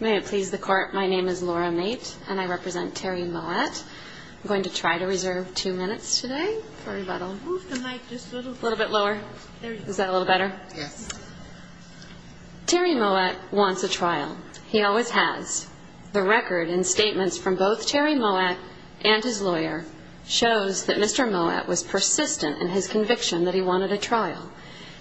May it please the court, my name is Laura Mate and I represent Terry Mowatt. I'm going to try to reserve two minutes today. Sorry about that. Move the mic just a little. A little bit lower. There you go. Is that a little better? Yes. Terry Mowatt wants a trial. He always has. The record and statements from both Terry Mowatt and his lawyer shows that Mr. Mowatt was persistent in his conviction that he wanted a trial.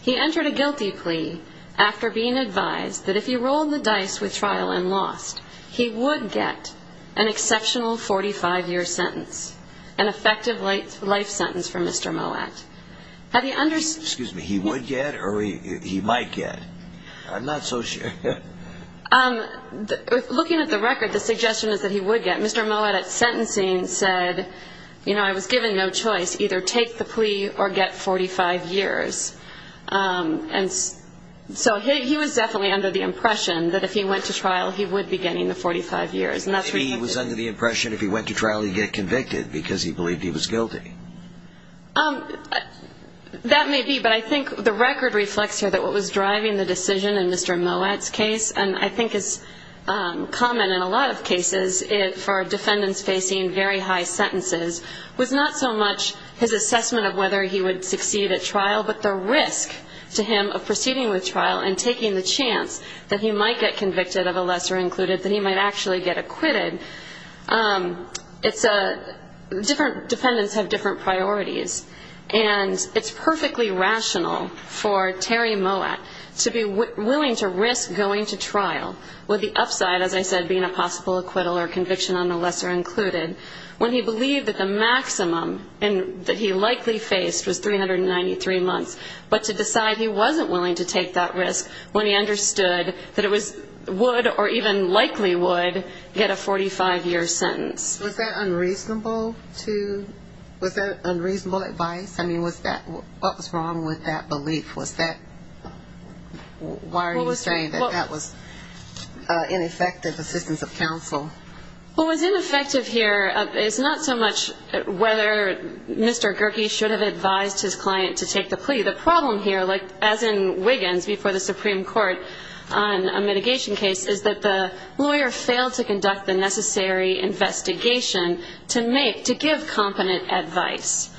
He entered a guilty plea after being advised that if he rolled the dice with trial and lost, he would get an exceptional 45-year sentence, an effective life sentence for Mr. Mowatt. Excuse me, he would get or he might get? I'm not so sure. Looking at the record, the suggestion is that he would get. Mr. Mowatt at sentencing said, you know, I was given no choice, either take the plea or get 45 years. And so he was definitely under the impression that if he went to trial he would be getting the 45 years. Maybe he was under the impression if he went to trial he'd get convicted because he believed he was guilty. That may be, but I think the record reflects here that what was driving the decision in Mr. Mowatt's case and I think is common in a lot of cases for defendants facing very high sentences was not so much his assessment of whether he would succeed at trial, but the risk to him of proceeding with trial and taking the chance that he might get convicted of a lesser included, that he might actually get acquitted. It's a different, defendants have different priorities. And it's perfectly rational for Terry Mowatt to be willing to risk going to trial, with the upside, as I said, being a possible acquittal or conviction on the lesser included, when he believed that the maximum that he likely faced was 393 months, but to decide he wasn't willing to take that risk when he understood that it would or even likely would get a 45-year sentence. Was that unreasonable to, was that unreasonable advice? I mean, was that, what was wrong with that belief? Was that, why are you saying that that was ineffective assistance of counsel? What was ineffective here is not so much whether Mr. Gerke should have advised his client to take the plea. The problem here, as in Wiggins before the Supreme Court on a mitigation case, is that the lawyer failed to conduct the necessary investigation to make, to give competent advice.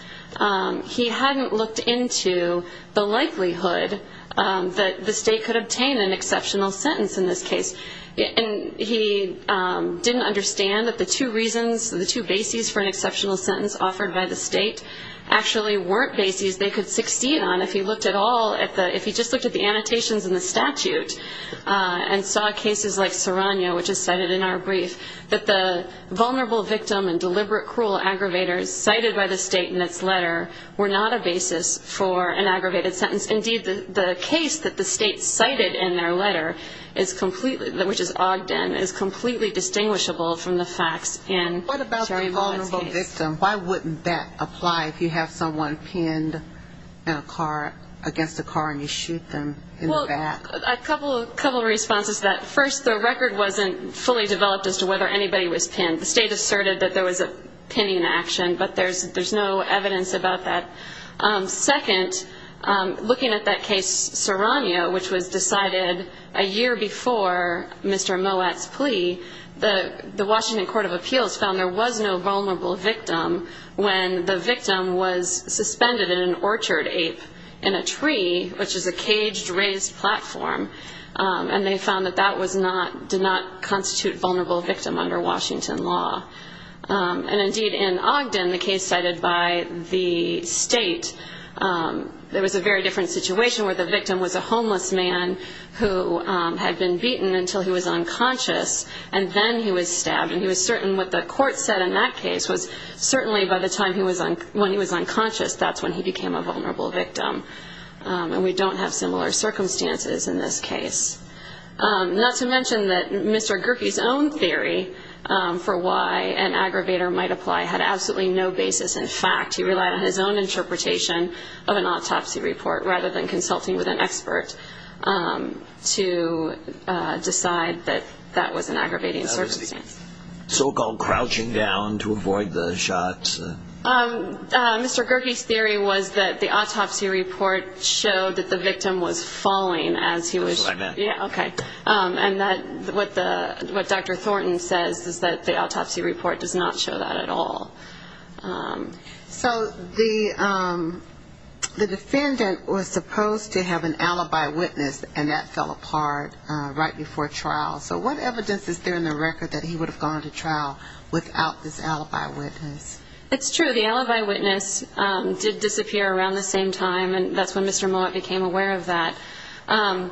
He hadn't looked into the likelihood that the state could obtain an exceptional sentence in this case. And he didn't understand that the two reasons, the two bases for an exceptional sentence offered by the state, actually weren't bases they could succeed on if he looked at all, if he just looked at the annotations in the statute and saw cases like Serrano, which is cited in our brief, that the vulnerable victim and deliberate cruel aggravators cited by the state in its letter were not a basis for an aggravated sentence. Indeed, the case that the state cited in their letter is completely, which is Ogden, is completely distinguishable from the facts in Jerry Volan's case. And why wouldn't that apply if you have someone pinned in a car, against a car, and you shoot them in the back? Well, a couple of responses to that. First, the record wasn't fully developed as to whether anybody was pinned. The state asserted that there was a pinning action, but there's no evidence about that. Second, looking at that case Serrano, which was decided a year before Mr. Moat's plea, the Washington Court of Appeals found there was no vulnerable victim when the victim was suspended in an orchard ape in a tree, which is a caged, raised platform, and they found that that did not constitute vulnerable victim under Washington law. And indeed, in Ogden, the case cited by the state, there was a very different situation where the victim was a homeless man who had been beaten until he was unconscious, and then he was stabbed. And he was certain what the court said in that case was certainly by the time he was unconscious, that's when he became a vulnerable victim. And we don't have similar circumstances in this case. Not to mention that Mr. Gerke's own theory for why an aggravator might apply had absolutely no basis in fact. He relied on his own interpretation of an autopsy report rather than consulting with an expert to decide that that was an aggravating circumstance. So-called crouching down to avoid the shots. Mr. Gerke's theory was that the autopsy report showed that the victim was falling as he was... That's what I meant. And what Dr. Thornton says is that the autopsy report does not show that at all. So the defendant was supposed to have an alibi witness, and that fell apart right before trial. So what evidence is there in the record that he would have gone to trial without this alibi witness? It's true. The alibi witness did disappear around the same time, and that's when Mr. Mowat became aware of that. I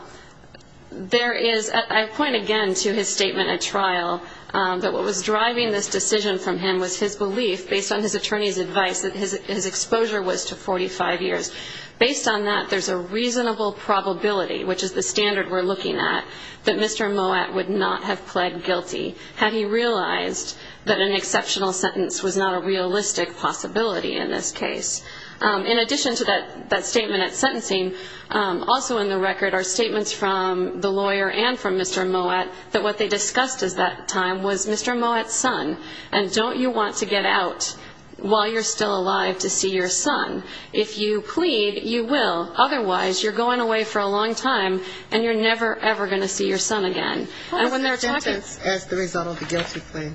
point again to his statement at trial that what was driving this decision from him was his belief, based on his attorney's advice, that his exposure was to 45 years. Based on that, there's a reasonable probability, which is the standard we're looking at, that Mr. Mowat would not have pled guilty had he realized that an exceptional sentence was not a realistic possibility in this case. In addition to that statement at sentencing, also in the record are statements from the lawyer and from Mr. Mowat that what they discussed at that time was Mr. Mowat's son, and don't you want to get out while you're still alive to see your son? If you plead, you will. Otherwise, you're going away for a long time, and you're never, ever going to see your son again. How long was the sentence as a result of the guilty plea?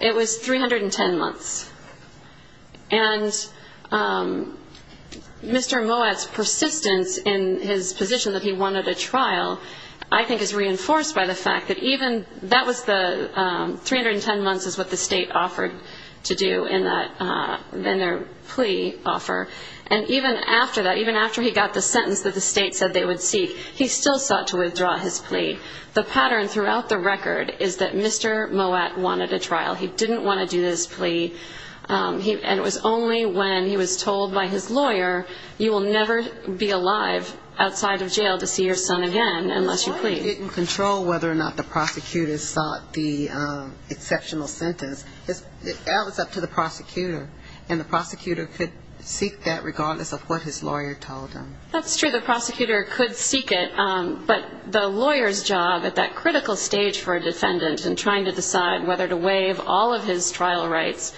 It was 310 months. And Mr. Mowat's persistence in his position that he wanted a trial, I think is reinforced by the fact that even that was the 310 months is what the state offered to do in their plea offer, and even after that, even after he got the sentence that the state said they would seek, he still sought to withdraw his plea. The pattern throughout the record is that Mr. Mowat wanted a trial. He didn't want to do this plea, and it was only when he was told by his lawyer, you will never be alive outside of jail to see your son again unless you plead. The lawyer didn't control whether or not the prosecutor sought the exceptional sentence. That was up to the prosecutor, and the prosecutor could seek that regardless of what his lawyer told him. That's true. The prosecutor could seek it, but the lawyer's job at that critical stage for a defendant in trying to decide whether to waive all of his trial rights,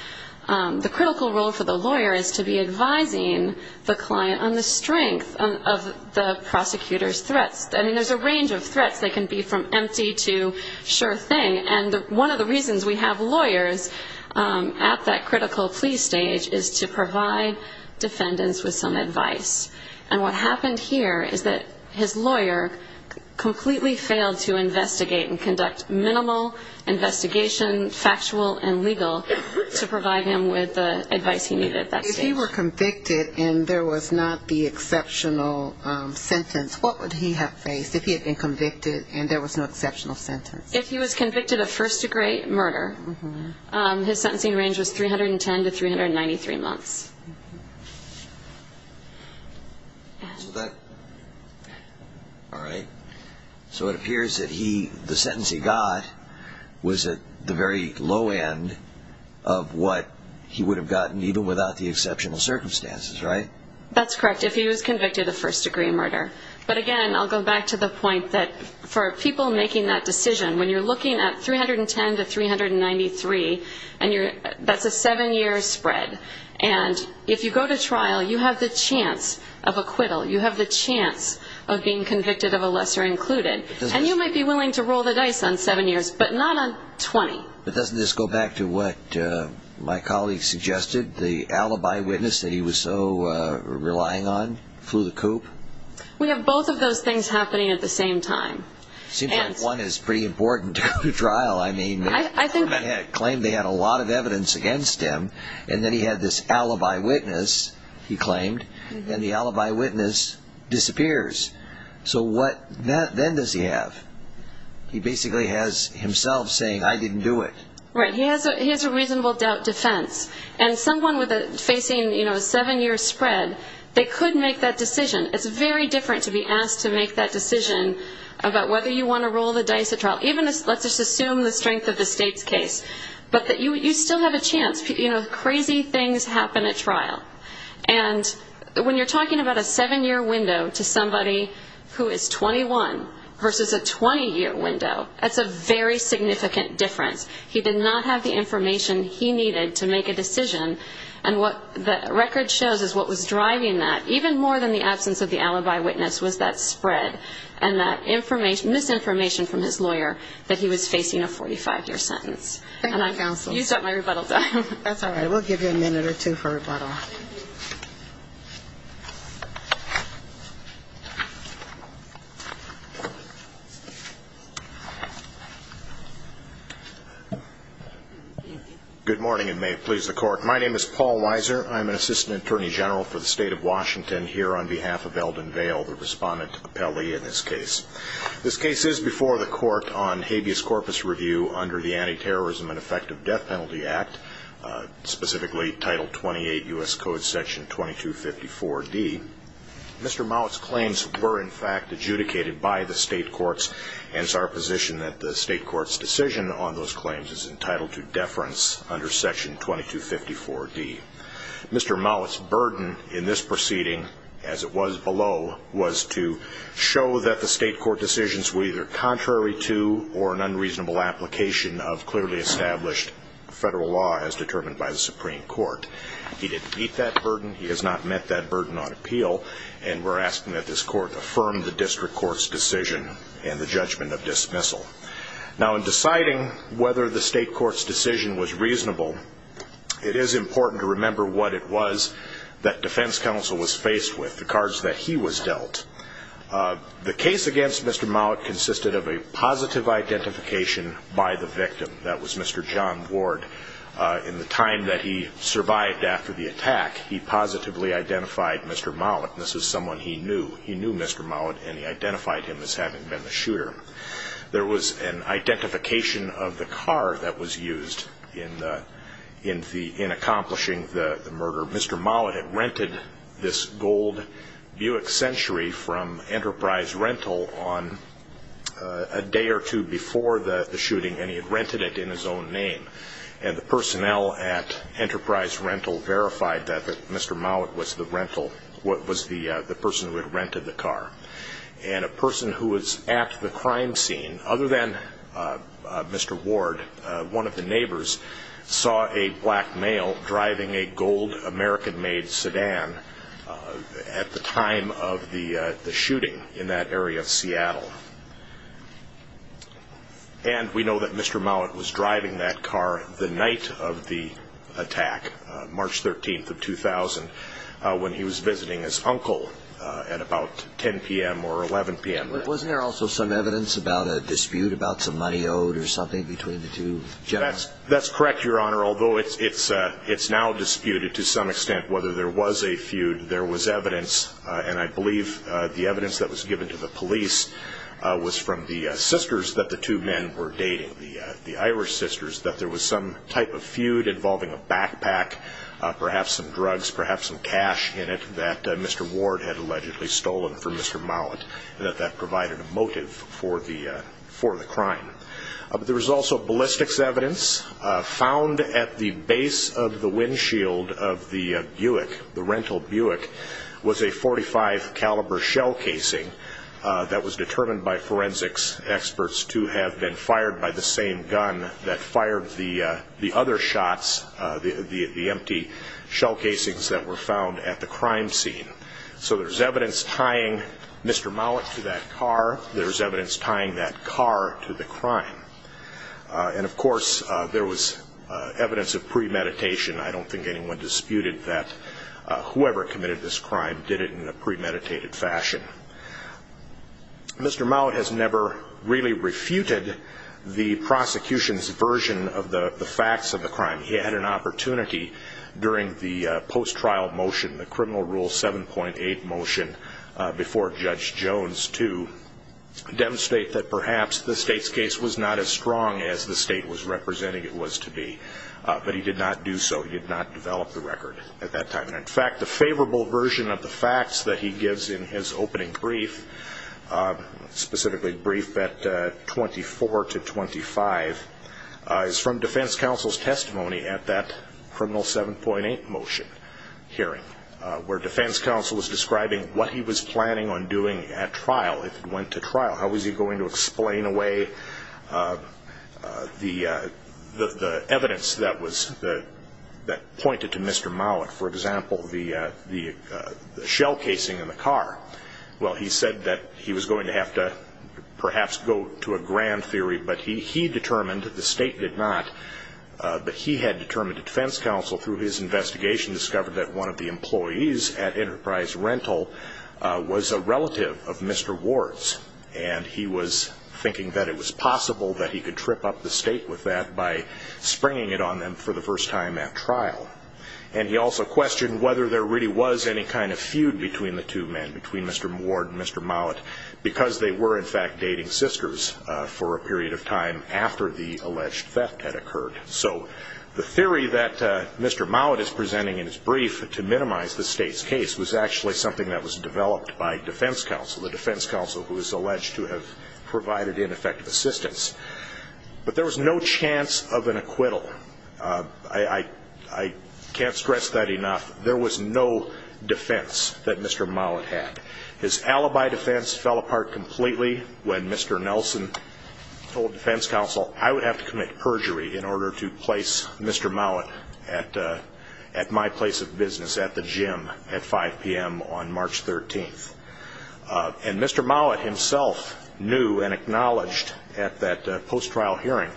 the critical role for the lawyer is to be advising the client on the strength of the prosecutor's threats. I mean, there's a range of threats. They can be from empty to sure thing, and one of the reasons we have lawyers at that critical plea stage is to provide defendants with some advice. And what happened here is that his lawyer completely failed to investigate and conduct minimal investigation, factual and legal, to provide him with the advice he needed. If he were convicted and there was not the exceptional sentence, what would he have faced if he had been convicted and there was no exceptional sentence? If he was convicted of first-degree murder, his sentencing range was 310 to 393 months. All right. So it appears that the sentence he got was at the very low end of what he would have gotten even without the exceptional circumstances, right? That's correct, if he was convicted of first-degree murder. But again, I'll go back to the point that for people making that decision, when you're looking at 310 to 393, that's a seven-year spread. And if you go to trial, you have the chance of acquittal. You have the chance of being convicted of a lesser included. And you might be willing to roll the dice on seven years, but not on 20. But doesn't this go back to what my colleague suggested? The alibi witness that he was so relying on flew the coop? We have both of those things happening at the same time. It seems like one is pretty important to go to trial. I mean, Clement had claimed they had a lot of evidence against him, and then he had this alibi witness, he claimed, and the alibi witness disappears. So what then does he have? He basically has himself saying, I didn't do it. Right. He has a reasonable doubt defense. And someone facing a seven-year spread, they could make that decision. It's very different to be asked to make that decision about whether you want to roll the dice at trial. Let's just assume the strength of the state's case. But you still have a chance. You know, crazy things happen at trial. And when you're talking about a seven-year window to somebody who is 21 versus a 20-year window, that's a very significant difference. He did not have the information he needed to make a decision. And what the record shows is what was driving that, even more than the absence of the alibi witness, was that spread and that misinformation from his lawyer that he was facing a 45-year sentence. Thank you, counsel. And I've used up my rebuttal time. That's all right. We'll give you a minute or two for rebuttal. Good morning, and may it please the Court. My name is Paul Weiser. I'm an assistant attorney general for the state of Washington. I'm here on behalf of Eldon Vail, the respondent appellee in this case. This case is before the Court on habeas corpus review under the Anti-Terrorism and Effective Death Penalty Act, specifically Title 28 U.S. Code Section 2254D. Mr. Mollett's claims were, in fact, adjudicated by the state courts, and it's our position that the state court's decision on those claims is entitled to deference under Section 2254D. Mr. Mollett's burden in this proceeding, as it was below, was to show that the state court decisions were either contrary to or an unreasonable application of clearly established federal law as determined by the Supreme Court. He didn't meet that burden. He has not met that burden on appeal, and we're asking that this Court affirm the district court's decision and the judgment of dismissal. Now, in deciding whether the state court's decision was reasonable, it is important to remember what it was that defense counsel was faced with, the cards that he was dealt. The case against Mr. Mollett consisted of a positive identification by the victim. That was Mr. John Ward. In the time that he survived after the attack, he positively identified Mr. Mollett. This was someone he knew. He knew Mr. Mollett, and he identified him as having been the shooter. There was an identification of the car that was used in accomplishing the murder. Mr. Mollett had rented this gold Buick Century from Enterprise Rental on a day or two before the shooting, and he had rented it in his own name. And the personnel at Enterprise Rental verified that Mr. Mollett was the rental, was the person who had rented the car. And a person who was at the crime scene, other than Mr. Ward, one of the neighbors saw a black male driving a gold American-made sedan at the time of the shooting in that area of Seattle. And we know that Mr. Mollett was driving that car the night of the attack, March 13th of 2000, when he was visiting his uncle at about 10 p.m. or 11 p.m. Wasn't there also some evidence about a dispute about some money owed or something between the two generals? That's correct, Your Honor, although it's now disputed to some extent whether there was a feud. There was evidence, and I believe the evidence that was given to the police was from the sisters that the two men were dating, the Irish sisters, that there was some type of feud involving a backpack, perhaps some drugs, perhaps some cash in it that Mr. Ward had allegedly stolen from Mr. Mollett, and that that provided a motive for the crime. There was also ballistics evidence. Found at the base of the windshield of the Buick, the rental Buick, was a .45-caliber shell casing that was determined by forensics experts to have been fired by the same gun that fired the other shots, the empty shell casings that were found at the crime scene. So there's evidence tying Mr. Mollett to that car. There's evidence tying that car to the crime. And, of course, there was evidence of premeditation. I don't think anyone disputed that whoever committed this crime did it in a premeditated fashion. Mr. Mollett has never really refuted the prosecution's version of the facts of the crime. He had an opportunity during the post-trial motion, the Criminal Rule 7.8 motion, before Judge Jones to demonstrate that perhaps the state's case was not as strong as the state was representing it was to be, but he did not do so. He did not develop the record at that time. And, in fact, the favorable version of the facts that he gives in his opening brief, specifically brief bet 24 to 25, is from defense counsel's testimony at that Criminal 7.8 motion hearing, where defense counsel was describing what he was planning on doing at trial if it went to trial. How was he going to explain away the evidence that pointed to Mr. Mollett? For example, the shell casing in the car. Well, he said that he was going to have to perhaps go to a grand theory, but he determined that the state did not. But he had determined that defense counsel, through his investigation, discovered that one of the employees at Enterprise Rental was a relative of Mr. Ward's. And he was thinking that it was possible that he could trip up the state with that by springing it on them for the first time at trial. And he also questioned whether there really was any kind of feud between the two men, between Mr. Ward and Mr. Mollett, because they were, in fact, dating sisters for a period of time after the alleged theft had occurred. So the theory that Mr. Mollett is presenting in his brief to minimize the state's case was actually something that was developed by defense counsel, the defense counsel who is alleged to have provided ineffective assistance. But there was no chance of an acquittal. I can't stress that enough. There was no defense that Mr. Mollett had. His alibi defense fell apart completely when Mr. Nelson told defense counsel, I would have to commit perjury in order to place Mr. Mollett at my place of business, at the gym, at 5 p.m. on March 13th. And Mr. Mollett himself knew and acknowledged at that post-trial hearing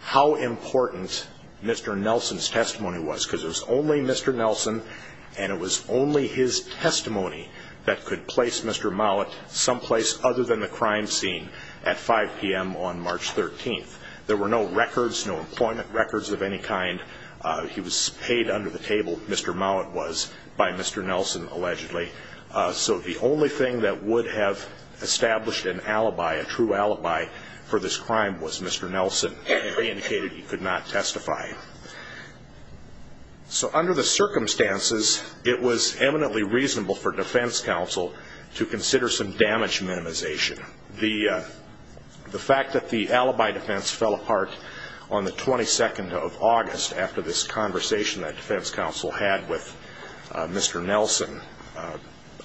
how important Mr. Nelson's testimony was, because it was only Mr. Nelson and it was only his testimony that could place Mr. Mollett someplace other than the crime scene at 5 p.m. on March 13th. There were no records, no employment records of any kind. He was paid under the table, Mr. Mollett was, by Mr. Nelson allegedly. So the only thing that would have established an alibi, a true alibi for this crime, was Mr. Nelson indicated he could not testify. So under the circumstances, it was eminently reasonable for defense counsel to consider some damage minimization. The fact that the alibi defense fell apart on the 22nd of August, after this conversation that defense counsel had with Mr. Nelson,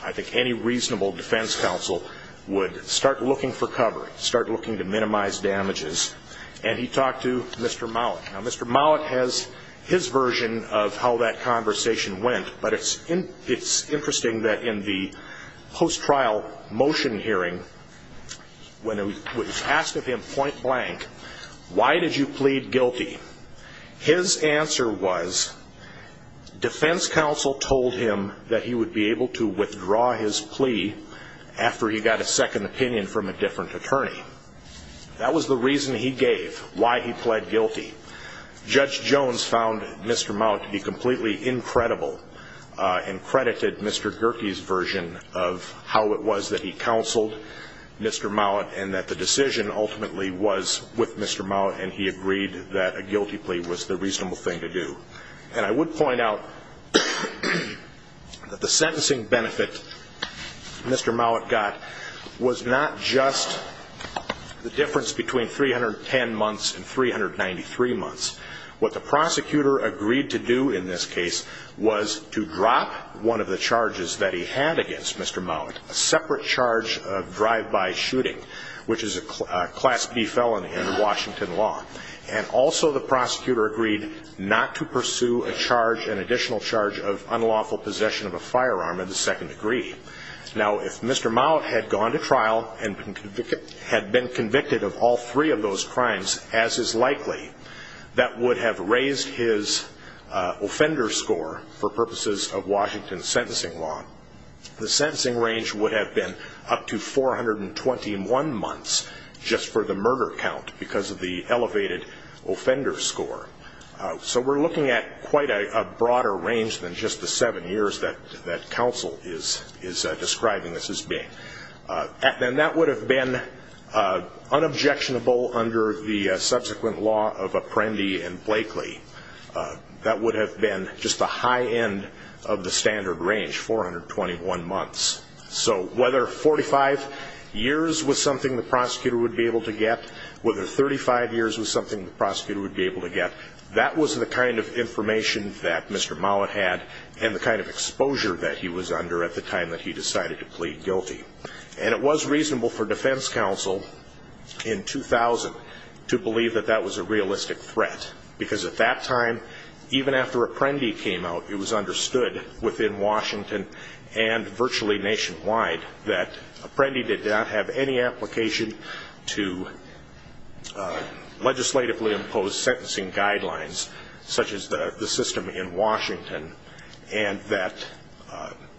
I think any reasonable defense counsel would start looking for cover, start looking to minimize damages, and he talked to Mr. Mollett. Now Mr. Mollett has his version of how that conversation went, but it's interesting that in the post-trial motion hearing, when it was asked of him point blank, why did you plead guilty, his answer was defense counsel told him that he would be able to withdraw his plea after he got a second opinion from a different attorney. That was the reason he gave, why he pled guilty. Judge Jones found Mr. Mollett to be completely incredible and credited Mr. Gerke's version of how it was that he counseled Mr. Mollett and that the decision ultimately was with Mr. Mollett and he agreed that a guilty plea was the reasonable thing to do. And I would point out that the sentencing benefit Mr. Mollett got was not just the difference between 310 months and 393 months. What the prosecutor agreed to do in this case was to drop one of the charges that he had against Mr. Mollett, a separate charge of drive-by shooting, which is a Class B felony under Washington law. And also the prosecutor agreed not to pursue a charge, an additional charge of unlawful possession of a firearm in the second degree. Now, if Mr. Mollett had gone to trial and had been convicted of all three of those crimes, as is likely, that would have raised his offender score for purposes of Washington sentencing law. The sentencing range would have been up to 421 months just for the murder count because of the elevated offender score. So we're looking at quite a broader range than just the seven years that counsel is describing this as being. And that would have been unobjectionable under the subsequent law of Apprendi and Blakely. That would have been just the high end of the standard range, 421 months. So whether 45 years was something the prosecutor would be able to get, whether 35 years was something the prosecutor would be able to get, that was the kind of information that Mr. Mollett had and the kind of exposure that he was under at the time that he decided to plead guilty. And it was reasonable for defense counsel in 2000 to believe that that was a realistic threat because at that time, even after Apprendi came out, it was understood within Washington and virtually nationwide that Apprendi did not have any application to legislatively imposed sentencing guidelines, such as the system in Washington, and that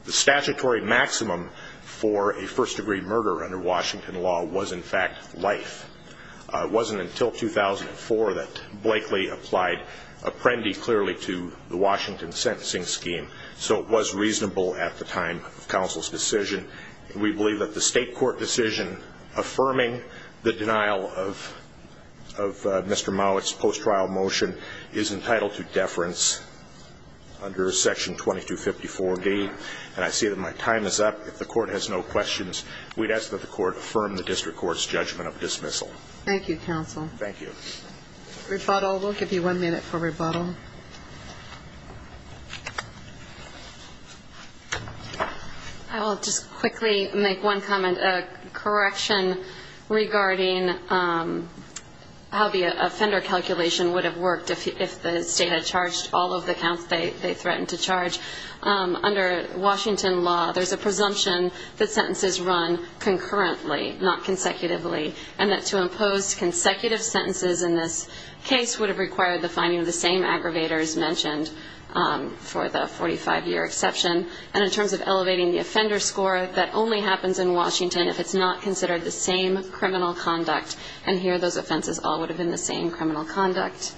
the statutory maximum for a first-degree murder under Washington law was, in fact, life. It wasn't until 2004 that Blakely applied Apprendi clearly to the Washington sentencing scheme, so it was reasonable at the time of counsel's decision. We believe that the state court decision affirming the denial of Mr. Mollett's post-trial motion is entitled to deference under Section 2254B. And I see that my time is up. If the Court has no questions, we'd ask that the Court affirm the district court's judgment of dismissal. Thank you, counsel. Thank you. Rebuttal. We'll give you one minute for rebuttal. Thank you. I will just quickly make one comment. A correction regarding how the offender calculation would have worked if the state had charged all of the counts they threatened to charge. Under Washington law, there's a presumption that sentences run concurrently, not consecutively, and that to impose consecutive sentences in this case would have required the finding of the same aggravators mentioned for the 45-year exception. And in terms of elevating the offender score, that only happens in Washington if it's not considered the same criminal conduct. And here those offenses all would have been the same criminal conduct.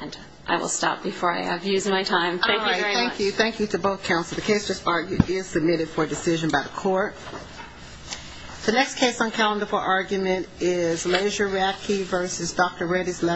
And I will stop before I have used my time. Thank you very much. All right, thank you. The case just argued is submitted for decision by the Court. The next case on calendar for argument is Laser Raffke v. Dr. Reddy's Laboratory.